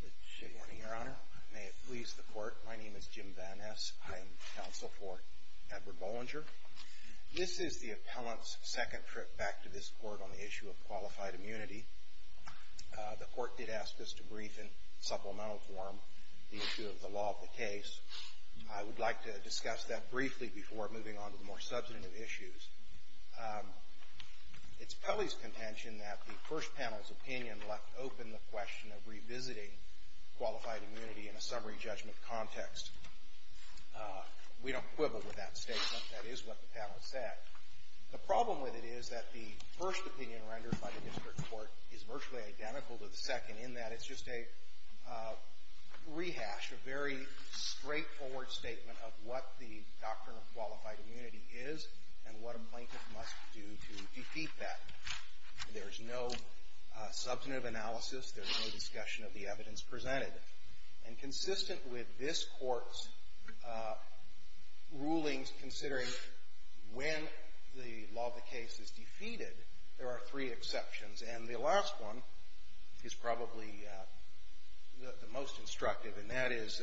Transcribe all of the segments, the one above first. Good morning, Your Honor. May it please the Court, my name is Jim Van Ness. I am counsel for Edward Bollinger. This is the appellant's second trip back to this Court on the issue of qualified immunity. The Court did ask us to brief in supplemental form the issue of the law of the case. I would like to discuss that briefly before moving on to the more substantive issues. It's Pelley's contention that the first panel's opinion left open the question of revisiting qualified immunity in a summary judgment context. We don't quibble with that statement. That is what the panel said. The problem with it is that the first opinion rendered by the district court is virtually identical to the second in that it's just a rehash, a very straightforward statement of what the doctrine of qualified immunity is and what a plaintiff must do to defeat that. There's no substantive analysis. There's no discussion of the evidence presented. And consistent with this Court's rulings considering when the law of the case is defeated, there are three exceptions. And the last one is probably the most instructive, and that is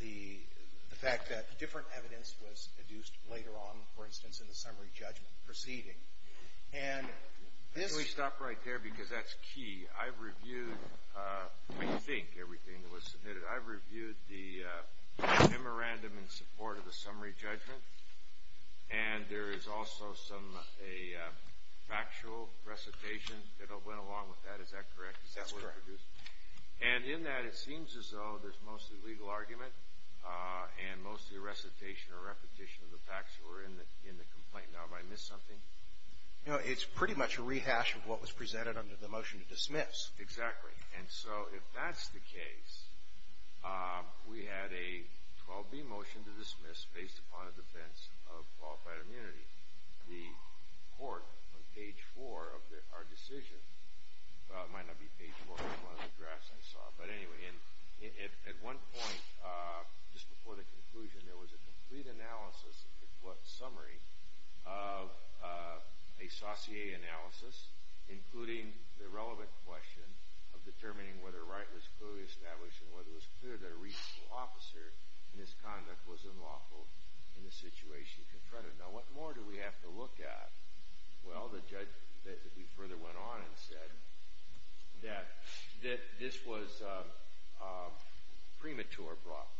the fact that different evidence was deduced later on, for instance, in the summary judgment proceeding. And this- Can we stop right there because that's key? I've reviewed, I think, everything that was submitted. I've reviewed the memorandum in support of the summary judgment, and there is also some factual recitation that went along with that. Is that correct? That's correct. And in that, it seems as though there's mostly legal argument and mostly recitation or repetition of the facts that were in the complaint. Now, have I missed something? No, it's pretty much a rehash of what was presented under the motion to dismiss. Exactly. And so if that's the case, we had a 12B motion to dismiss based upon a defense of qualified immunity. The Court, on page 4 of our decision-well, it might not be page 4, but it's one of the drafts I saw. But anyway, at one point, just before the conclusion, there was a complete analysis of the court's summary of a sauté analysis, including the relevant question of determining whether Wright was clearly established and whether it was clear that a reasonable officer in his conduct was unlawful in the situation confronted. Now, what more do we have to look at? Well, the judge that we further went on and said that this was a premature block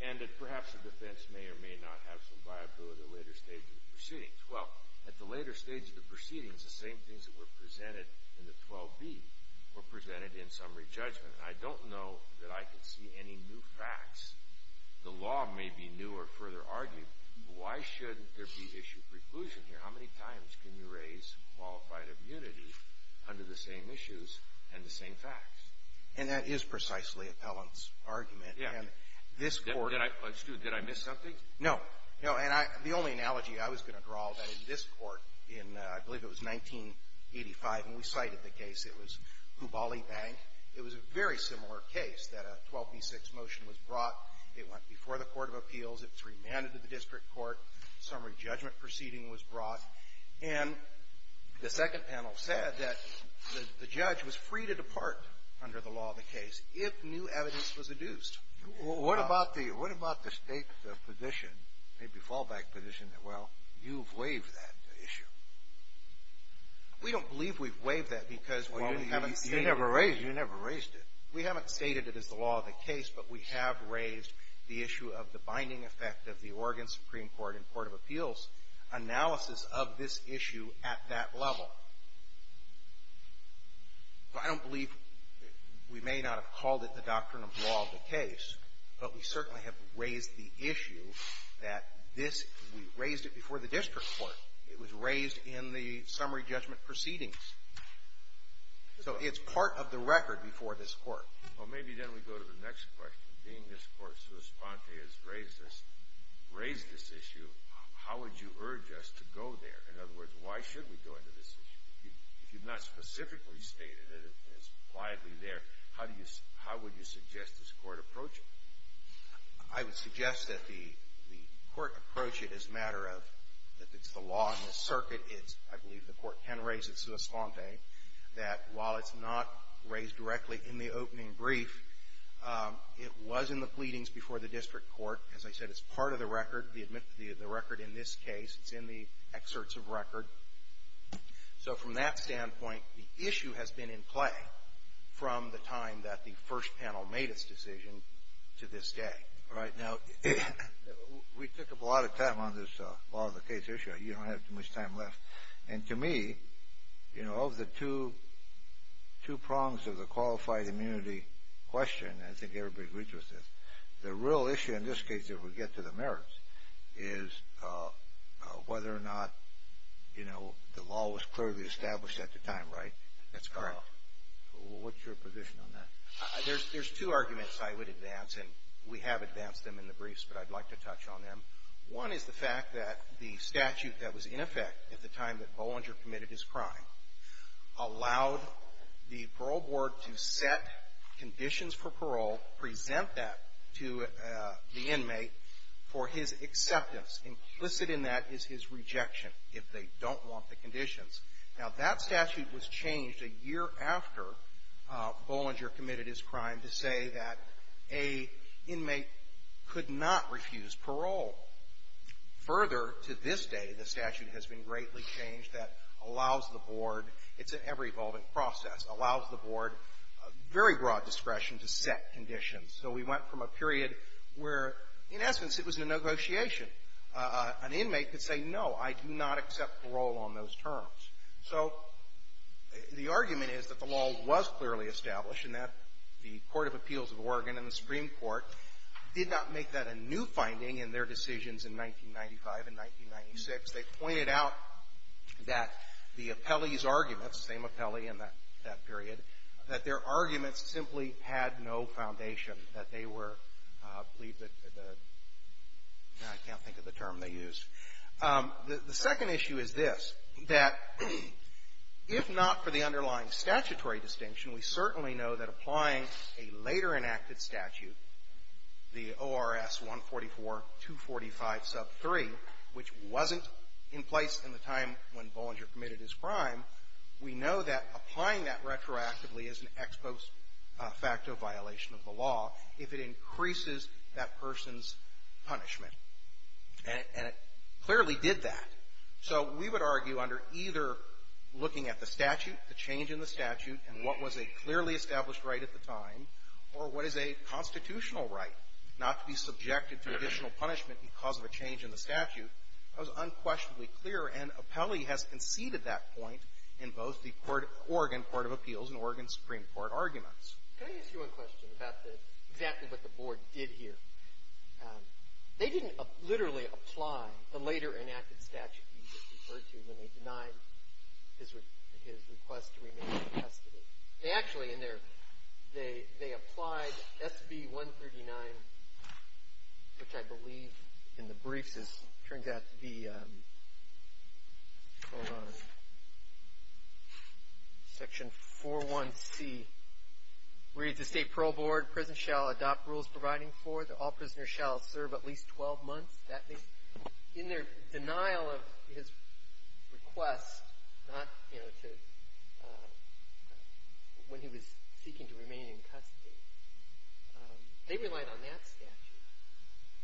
and that perhaps the defense may or may not have some viability at a later stage of the proceedings. Well, at the later stage of the proceedings, the same things that were presented in the 12B were presented in summary judgment. And I don't know that I can see any new facts. The law may be new or further argued, but why shouldn't there be issue of preclusion here? How many times can you raise qualified immunity under the same issues and the same facts? And that is precisely Appellant's argument. And this Court — Did I miss something? No. No. And the only analogy I was going to draw, that in this Court, in I believe it was 1985, and we cited the case, it was Huballi Bank. It was a very similar case that a 12B6 motion was brought. It went before the court of appeals. It was remanded to the district court. Summary judgment proceeding was brought. And the second panel said that the judge was free to depart under the law of the case if new evidence was adduced. What about the state's position, maybe fallback position, that, well, you've waived that issue? We don't believe we've waived that because we haven't stated it. Well, you never raised it. We haven't stated it as the law of the case, but we have raised the issue of the binding effect of the Oregon Supreme Court and court of appeals analysis of this issue at that level. Well, I don't believe we may not have called it the doctrine of law of the case, but we certainly have raised the issue that this, we raised it before the district court. It was raised in the summary judgment proceedings. So it's part of the record before this Court. Well, maybe then we go to the next question. Being this Court's response has raised this issue, how would you urge us to go there? In other words, why should we go into this issue? If you've not specifically stated it, it's quietly there, how would you suggest this Court approach it? I would suggest that the Court approach it as a matter of if it's the law in this circuit, I believe the Court can raise it sua slante, that while it's not raised directly in the opening brief, it was in the pleadings before the district court. As I said, it's part of the record. The record in this case, it's in the excerpts of record. So from that standpoint, the issue has been in play from the time that the first panel made its decision to this day. All right, now, we took a lot of time on this law of the case issue. You don't have too much time left. And to me, you know, of the two prongs of the qualified immunity question, I think everybody agrees with this, the real issue in this case, if we get to the merits, is whether or not, you know, the law was clearly established at the time, right? That's correct. What's your position on that? There's two arguments I would advance, and we have advanced them in the briefs, but I'd like to touch on them. One is the fact that the statute that was in effect at the time that Bollinger committed his crime allowed the parole board to set conditions for parole, present that to the inmate for his acceptance. Implicit in that is his rejection if they don't want the conditions. Now, that statute was changed a year after Bollinger committed his crime to say that an inmate could not refuse parole. Further, to this day, the statute has been greatly changed that allows the board, it's an ever-evolving process, allows the board very broad discretion to set conditions. So we went from a period where, in essence, it was a negotiation. An inmate could say, no, I do not accept parole on those terms. So the argument is that the law was clearly established and that the Court of Appeals of Oregon and the Supreme Court did not make that a new finding in their decisions in 1995 and 1996. They pointed out that the appellee's arguments, the same appellee in that period, that their arguments simply had no foundation, that they were, I can't think of the term they used. The second issue is this, that if not for the underlying statutory distinction, we certainly know that applying a later enacted statute, the ORS 144-245 sub 3, which wasn't in place in the time when Bollinger committed his crime, we know that applying that retroactively is an ex post facto violation of the law if it increases that person's punishment. And it clearly did that. So we would argue under either looking at the statute, the change in the statute, and what was a clearly established right at the time, or what is a constitutional right not to be subjected to additional punishment because of a change in the statute, that was unquestionably clear, and appellee has conceded that point in both the Oregon Court of Appeals and Oregon Supreme Court arguments. Can I ask you one question about the exactly what the Board did here? They didn't literally apply the later enacted statute you just referred to when they denied his request to remain in custody. They actually, in their, they applied SB 139, which I believe in the briefs is, turns out to be, hold on. Section 4.1c reads, the State Parole Board, prison, shall adopt rules providing for that all prisoners shall serve at least 12 months. In their denial of his request, not, you know, to, when he was seeking to remain in custody, they relied on that statute.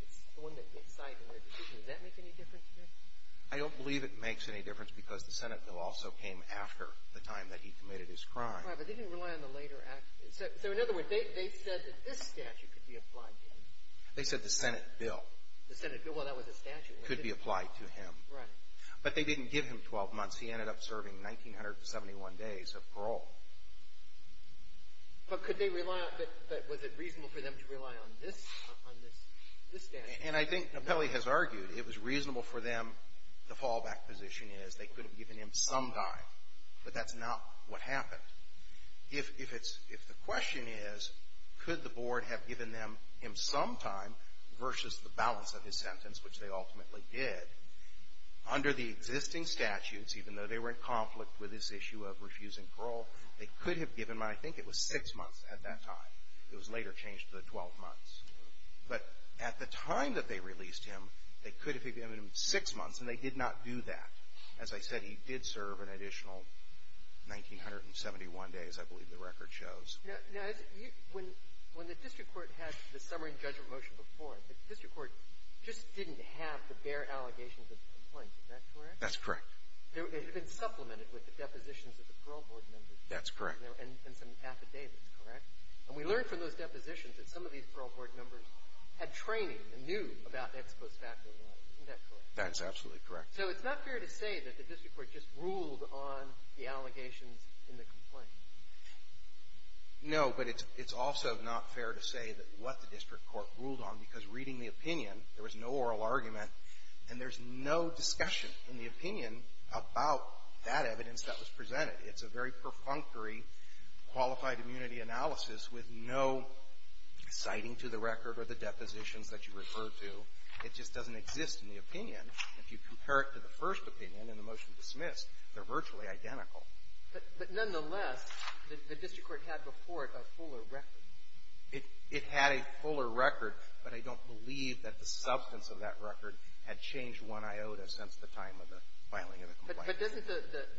It's the one that they cited in their decision. Does that make any difference here? I don't believe it makes any difference because the Senate bill also came after the time that he committed his crime. Right, but they didn't rely on the later act. So in other words, they said that this statute could be applied to him. They said the Senate bill. The Senate bill, well, that was a statute. Could be applied to him. Right. But they didn't give him 12 months. He ended up serving 1,971 days of parole. But could they rely on, was it reasonable for them to rely on this, on this statute? And I think Apelli has argued it was reasonable for them, the fallback position is they could have given him some time, but that's not what happened. If it's, if the question is, could the board have given them him some time versus the balance of his sentence, which they ultimately did, under the existing statutes, even though they were in conflict with this issue of refusing parole, they could have given him, I think it was six months at that time. It was later changed to the 12 months. But at the time that they released him, they could have given him six months, and they did not do that. As I said, he did serve an additional 1,971 days, I believe the record shows. Now, when the district court had the summary and judgment motion before, the district court just didn't have the bare allegations of the complaint. Is that correct? That's correct. It had been supplemented with the depositions of the parole board members. That's correct. And some affidavits, correct? And we learned from those depositions that some of these parole board members had training and knew about ex post facto law. Isn't that correct? That's absolutely correct. So it's not fair to say that the district court just ruled on the allegations in the complaint. No. But it's also not fair to say that what the district court ruled on, because reading the opinion, there was no oral argument, and there's no discussion in the opinion about that evidence that was presented. It's a very perfunctory qualified immunity analysis with no citing to the record or the depositions that you refer to. It just doesn't exist in the opinion. If you compare it to the first opinion and the motion dismissed, they're virtually identical. But nonetheless, the district court had before it a fuller record. It had a fuller record, but I don't believe that the substance of that record had changed one iota since the time of the filing of the complaint. But doesn't the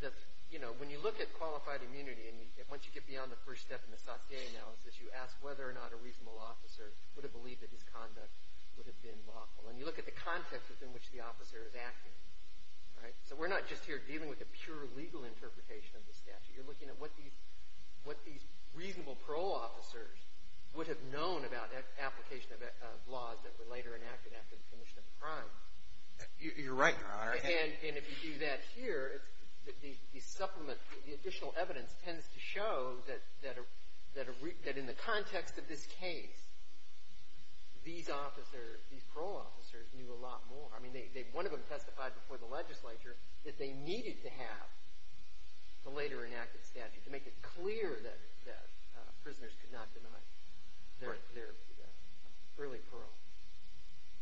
– you know, when you look at qualified immunity, and once you get beyond the first step in the Satie analysis, you ask whether or not a reasonable officer would have believed that his conduct would have been lawful. And you look at the context within which the officer is acting, right? So we're not just here dealing with a pure legal interpretation of the statute. You're looking at what these reasonable parole officers would have known about application of laws that were later enacted after the commission of a crime. You're right, Your Honor. And if you do that here, the supplement, the additional evidence tends to show that in the context of this case, these parole officers knew a lot more. I mean, one of them testified before the legislature that they needed to have the later enacted statute to make it clear that prisoners could not deny their early parole.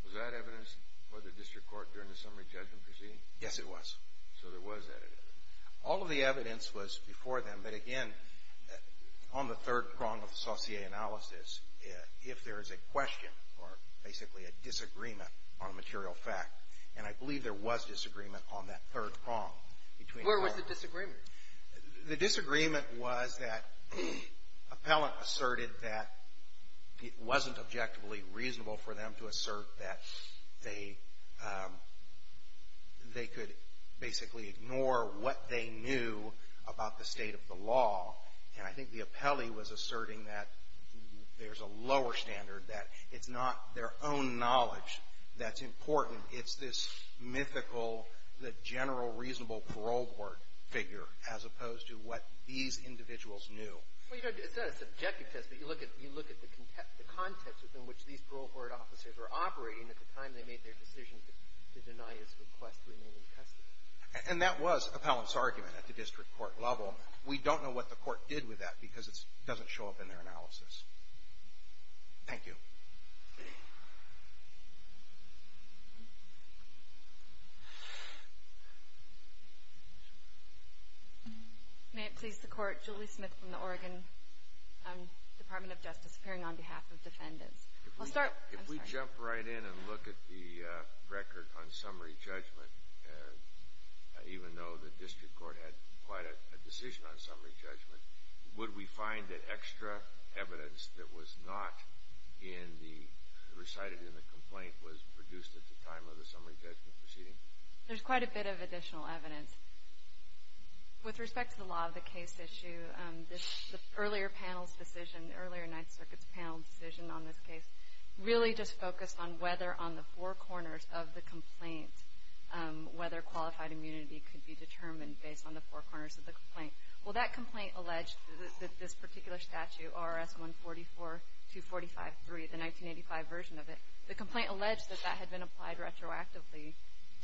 Was that evidence before the district court during the summary judgment proceeding? Yes, it was. So there was that evidence. All of the evidence was before them. But, again, on the third prong of the Satie analysis, if there is a question or basically a disagreement on a material fact, and I believe there was disagreement on that third prong. Where was the disagreement? The disagreement was that appellant asserted that it wasn't objectively reasonable for them to assert that they could basically ignore what they knew about the state of the law. And I think the appellee was asserting that there's a lower standard, that it's not their own knowledge that's important. It's this mythical, the general reasonable parole board figure as opposed to what these individuals knew. Well, you know, it's not a subjective test, but you look at the context within which these parole board officers were operating at the time they made their decision to deny his request to remain in custody. And that was appellant's argument at the district court level. We don't know what the court did with that because it doesn't show up in their analysis. Thank you. May it please the court, Julie Smith from the Oregon Department of Justice, appearing on behalf of defendants. I'll start. If we jump right in and look at the record on summary judgment, even though the district court had quite a decision on summary judgment, would we find that extra evidence that was not recited in the complaint was produced at the time of the summary judgment proceeding? There's quite a bit of additional evidence. With respect to the law of the case issue, the earlier panel's decision, the earlier Ninth Circuit's panel's decision on this case really just focused on whether on the four corners of the complaint, whether qualified immunity could be determined based on the four corners of the complaint. Well, that complaint alleged that this particular statute, R.S. 144-245-3, the 1985 version of it, the complaint alleged that that had been applied retroactively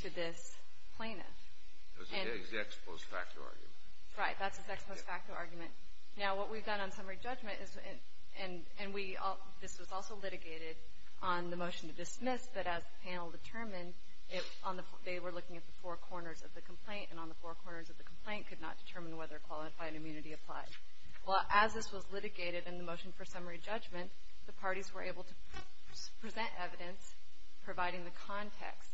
to this plaintiff. It was the ex-post facto argument. Right. That's his ex-post facto argument. Now, what we've done on summary judgment is, and we all, this was also litigated on the motion to dismiss, but as the panel determined, they were looking at the four Well, as this was litigated in the motion for summary judgment, the parties were able to present evidence providing the context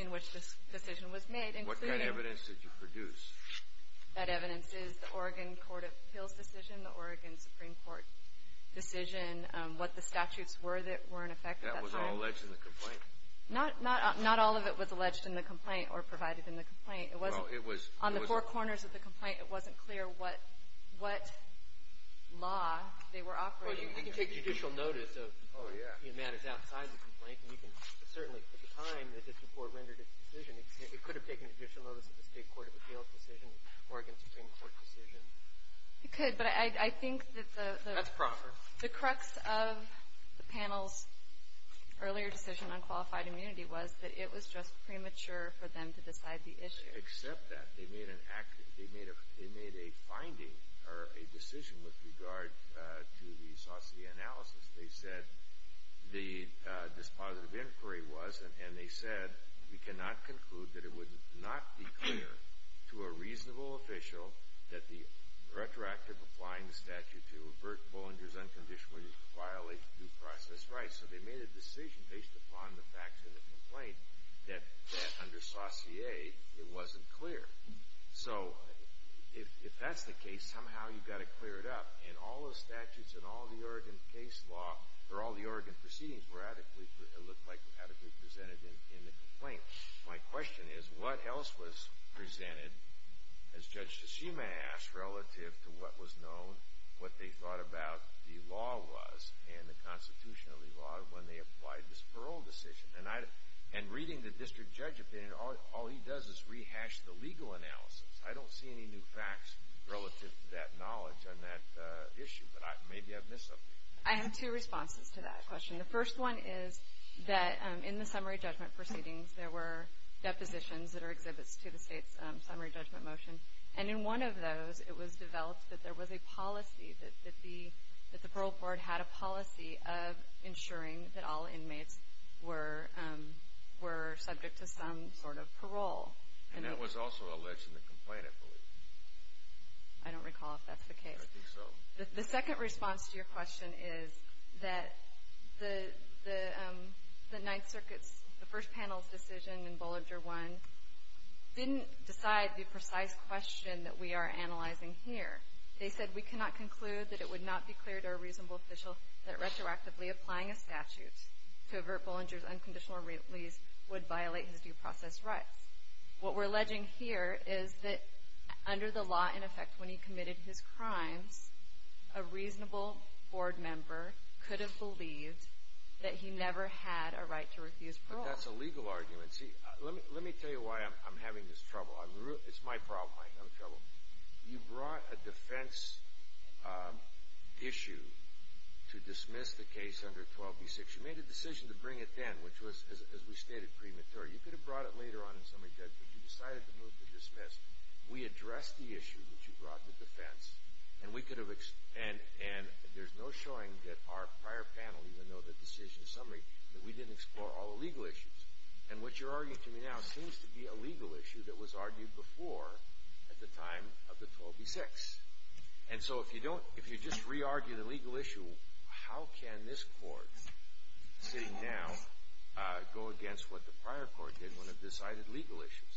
in which this decision was made. What kind of evidence did you produce? That evidence is the Oregon Court of Appeals decision, the Oregon Supreme Court decision, what the statutes were that were in effect at that time. That was all alleged in the complaint? Not all of it was alleged in the complaint or provided in the complaint. It wasn't on the four corners of the complaint. It wasn't clear what law they were operating under. Well, you can take judicial notice of matters outside the complaint, and you can certainly, at the time that this report rendered its decision, it could have taken judicial notice of the state court of appeals decision, Oregon Supreme Court decision. It could, but I think that the That's proper. The crux of the panel's earlier decision on qualified immunity was that it was just premature for them to decide the issue. They didn't accept that. They made a finding or a decision with regard to the Saucier analysis. They said the dispositive inquiry was, and they said, We cannot conclude that it would not be clear to a reasonable official that the retroactive applying the statute to avert Bollinger's unconditionally violate due process rights. So they made a decision based upon the facts of the complaint that under Saucier it wasn't clear. So if that's the case, somehow you've got to clear it up. And all the statutes and all the Oregon case law, or all the Oregon proceedings look like radically presented in the complaint. My question is, what else was presented, as Judge Shishima asked, relative to what was known, what they thought about the law was, and the constitution of the law when they applied this parole decision? And reading the district judge opinion, all he does is rehash the legal analysis. I don't see any new facts relative to that knowledge on that issue, but maybe I've missed something. I have two responses to that question. The first one is that in the summary judgment proceedings, there were depositions that are exhibits to the state's summary judgment motion. And in one of those, it was developed that there was a policy, that the parole board had a policy of ensuring that all inmates were subject to some sort of parole. And that was also alleged in the complaint, I believe. I don't recall if that's the case. I think so. The second response to your question is that the Ninth Circuit's, the first panel's decision in Bollinger 1 didn't decide the precise question that we are analyzing here. They said, We cannot conclude that it would not be clear to a reasonable official that retroactively applying a statute to avert Bollinger's unconditional release would violate his due process rights. What we're alleging here is that under the law, in effect, when he committed his crimes, a reasonable board member could have believed that he never had a right to refuse parole. But that's a legal argument. See, let me tell you why I'm having this trouble. It's my problem. I have a trouble. You brought a defense issue to dismiss the case under 12B-6. You made a decision to bring it then, which was, as we stated, premature. You could have brought it later on in summary judgment, but you decided to move to dismiss. We addressed the issue that you brought to defense, and there's no showing that our prior panel, even though the decision is summary, that we didn't explore all the legal issues. And what you're arguing to me now seems to be a legal issue that was argued before at the time of the 12B-6. And so if you just re-argue the legal issue, how can this court sitting now go against what the prior court did when it decided legal issues?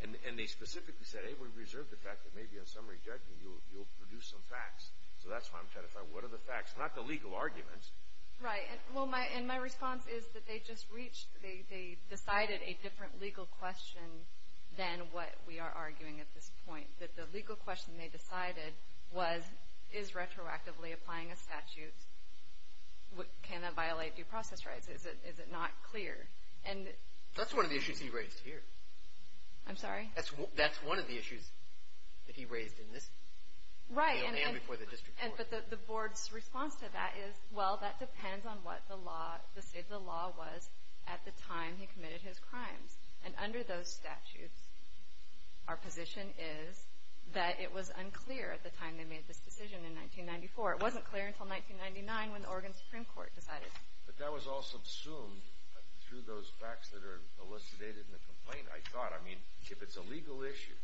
And they specifically said, hey, we reserve the fact that maybe in summary judgment you'll produce some facts. So that's why I'm trying to find what are the facts, not the legal arguments. Right. Well, and my response is that they just reached, they decided a different legal question than what we are arguing at this point. That the legal question they decided was, is retroactively applying a statute, can that violate due process rights? Is it not clear? That's one of the issues he raised here. I'm sorry? That's one of the issues that he raised in this panel and before the district court. But the board's response to that is, well, that depends on what the law, the state of the law was at the time he committed his crimes. And under those statutes, our position is that it was unclear at the time they made this decision in 1994. It wasn't clear until 1999 when the Oregon Supreme Court decided. But that was all subsumed through those facts that are elucidated in the complaint, I thought. I mean, if it's a legal issue,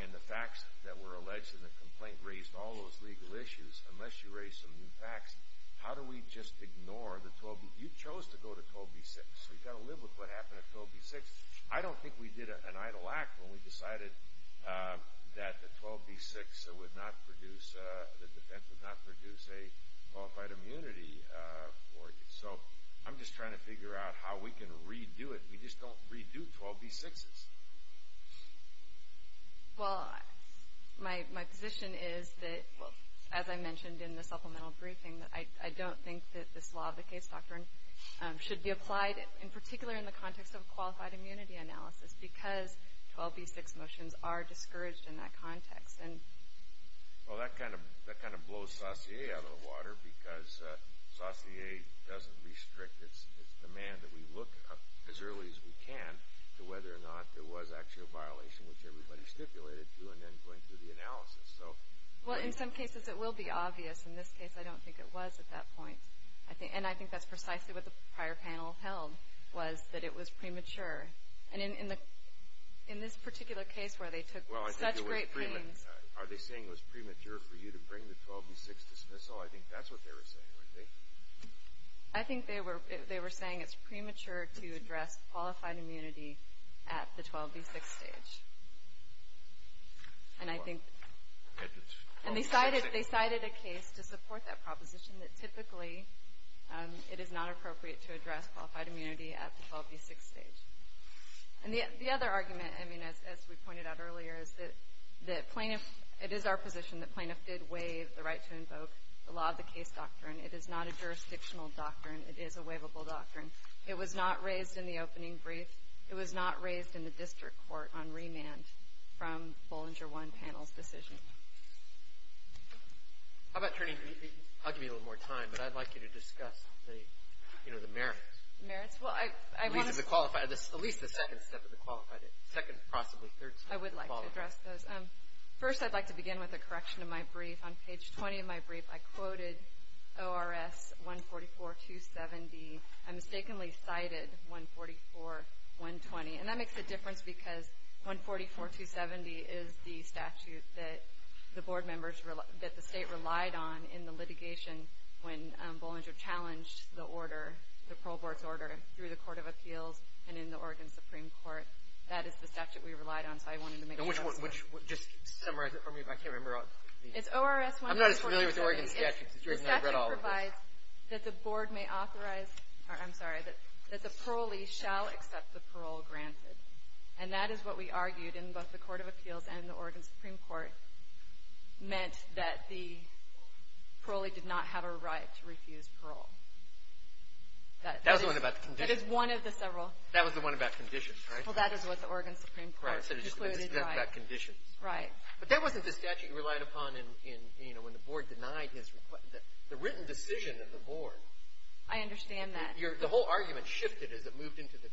and the facts that were alleged in the complaint raised all those legal issues, unless you raise some new facts, how do we just ignore the 12B? You chose to go to 12B-6. We've got to live with what happened at 12B-6. I don't think we did an idle act when we decided that the 12B-6 would not produce, the defense would not produce a qualified immunity for you. So I'm just trying to figure out how we can redo it. We just don't redo 12B-6s. Well, my position is that, as I mentioned in the supplemental briefing, I don't think that this law of the case doctrine should be applied, in particular in the context of a qualified immunity analysis, because 12B-6 motions are discouraged in that context. Well, that kind of blows Saussure out of the water because Saussure doesn't restrict its demand that we look up as early as we can to whether or not there was actually a violation, which everybody stipulated to, and then going through the analysis. Well, in some cases it will be obvious. In this case, I don't think it was at that point. And I think that's precisely what the prior panel held, was that it was premature. And in this particular case where they took such great pains— Well, are they saying it was premature for you to bring the 12B-6 dismissal? I think that's what they were saying, right? I think they were saying it's premature to address qualified immunity at the 12B-6 stage. And I think— And they cited a case to support that proposition, that typically it is not appropriate to address qualified immunity at the 12B-6 stage. And the other argument, as we pointed out earlier, is that plaintiff— It is not a jurisdictional doctrine. It is a waivable doctrine. It was not raised in the opening brief. It was not raised in the district court on remand from Bollinger 1 panel's decision. How about turning—I'll give you a little more time, but I'd like you to discuss the merits. Merits? Well, I want to— At least the second step of the qualified—second, possibly third step of the qualified— I would like to address those. First, I'd like to begin with a correction of my brief. On page 20 of my brief, I quoted ORS 144.270. I mistakenly cited 144.120. And that makes a difference because 144.270 is the statute that the board members— that the state relied on in the litigation when Bollinger challenged the order, the parole board's order, through the Court of Appeals and in the Oregon Supreme Court. That is the statute we relied on, so I wanted to make sure— Which—just summarize it for me, but I can't remember. It's ORS 144.270. I'm not as familiar with the Oregon statute as you are, and I've read all of it. The statute provides that the board may authorize—I'm sorry, that the parolee shall accept the parole granted. And that is what we argued in both the Court of Appeals and the Oregon Supreme Court meant that the parolee did not have a right to refuse parole. That is— That was the one about the condition. That is one of the several— That was the one about conditions, right? Well, that is what the Oregon Supreme Court concluded by— Right, so it's just about conditions. Right. But that wasn't the statute you relied upon in, you know, when the board denied his—the written decision of the board. I understand that. The whole argument shifted as it moved into the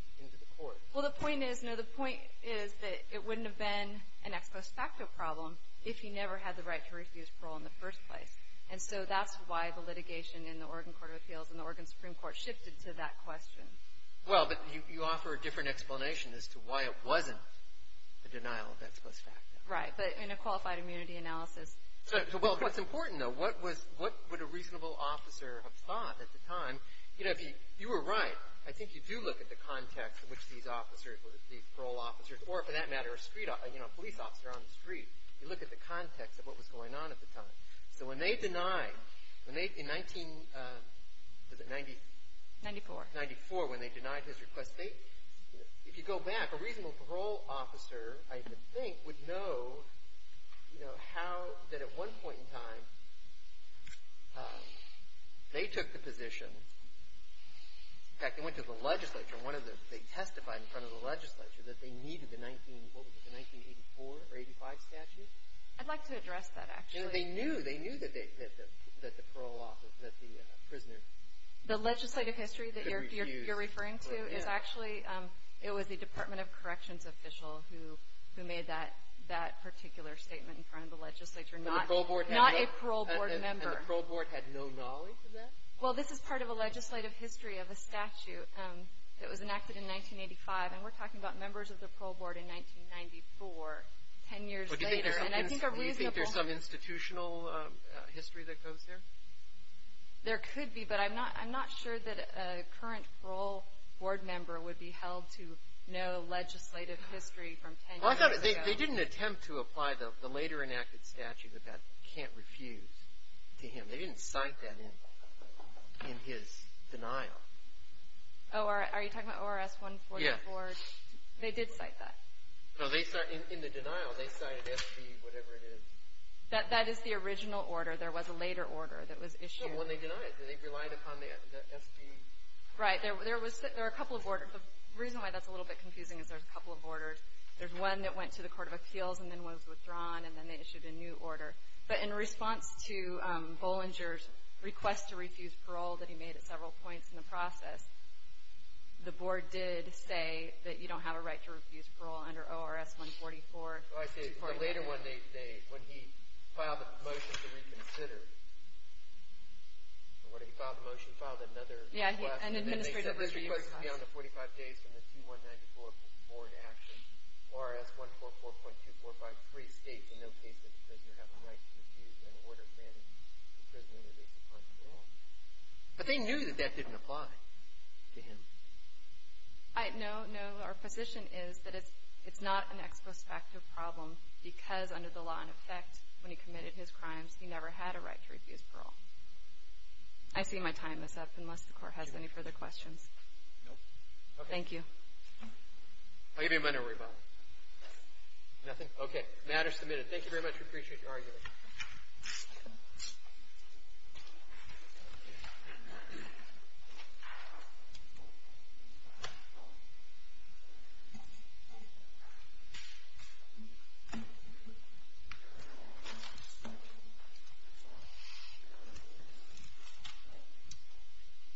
court. Well, the point is, you know, the point is that it wouldn't have been an ex post facto problem if he never had the right to refuse parole in the first place. And so that's why the litigation in the Oregon Court of Appeals and the Oregon Supreme Court shifted to that question. Well, but you offer a different explanation as to why it wasn't the denial of ex post facto. Right. But in a qualified immunity analysis— So, well, what's important, though, what was—what would a reasonable officer have thought at the time? You know, if you were right, I think you do look at the context in which these officers, these parole officers, or for that matter, a street—you know, a police officer on the street. You look at the context of what was going on at the time. So when they denied—in 1994, when they denied his request, if you go back, a reasonable parole officer, I think, would know, you know, how—that at one point in time, they took the position—in fact, they went to the legislature. One of the—they testified in front of the legislature that they needed the 19—what was it? The 1984 or 85 statute? I'd like to address that, actually. You know, they knew. They knew that the parole officer—that the prisoner— The legislative history that you're referring to is actually— It was a corrections official who made that particular statement in front of the legislature. Not a parole board member. And the parole board had no knowledge of that? Well, this is part of a legislative history of a statute that was enacted in 1985, and we're talking about members of the parole board in 1994, 10 years later. And I think a reasonable— Do you think there's some institutional history that goes there? There could be, but I'm not sure that a current parole board member would be held to know legislative history from 10 years ago. Well, I thought—they didn't attempt to apply the later enacted statute about can't refuse to him. They didn't cite that in his denial. Are you talking about ORS 144? Yes. They did cite that. In the denial, they cited SB whatever it is. That is the original order. There was a later order that was issued. When they denied it, did they rely upon the SB? Right. There were a couple of orders. The reason why that's a little bit confusing is there's a couple of orders. There's one that went to the Court of Appeals and then was withdrawn, and then they issued a new order. But in response to Bollinger's request to refuse parole that he made at several points in the process, the board did say that you don't have a right to refuse parole under ORS 144. Oh, I see. In the later one, when he filed a motion to reconsider—what did he file? The motion filed another request. Yeah, an administrative request. And then they said those requests would be on the 45 days from the 2194 board action. ORS 144.2453 states in no case that he says you have a right to refuse an order granting imprisonment at least a point in the law. But they knew that that didn't apply to him. No, no. Our position is that it's not an ex post facto problem because under the law in effect, when he committed his crimes, he never had a right to refuse parole. I see my time is up, unless the Court has any further questions. No. Thank you. I'll give you a minute to rebut. Nothing? Okay. Matter submitted. Thank you very much. We appreciate your argument. Thank you.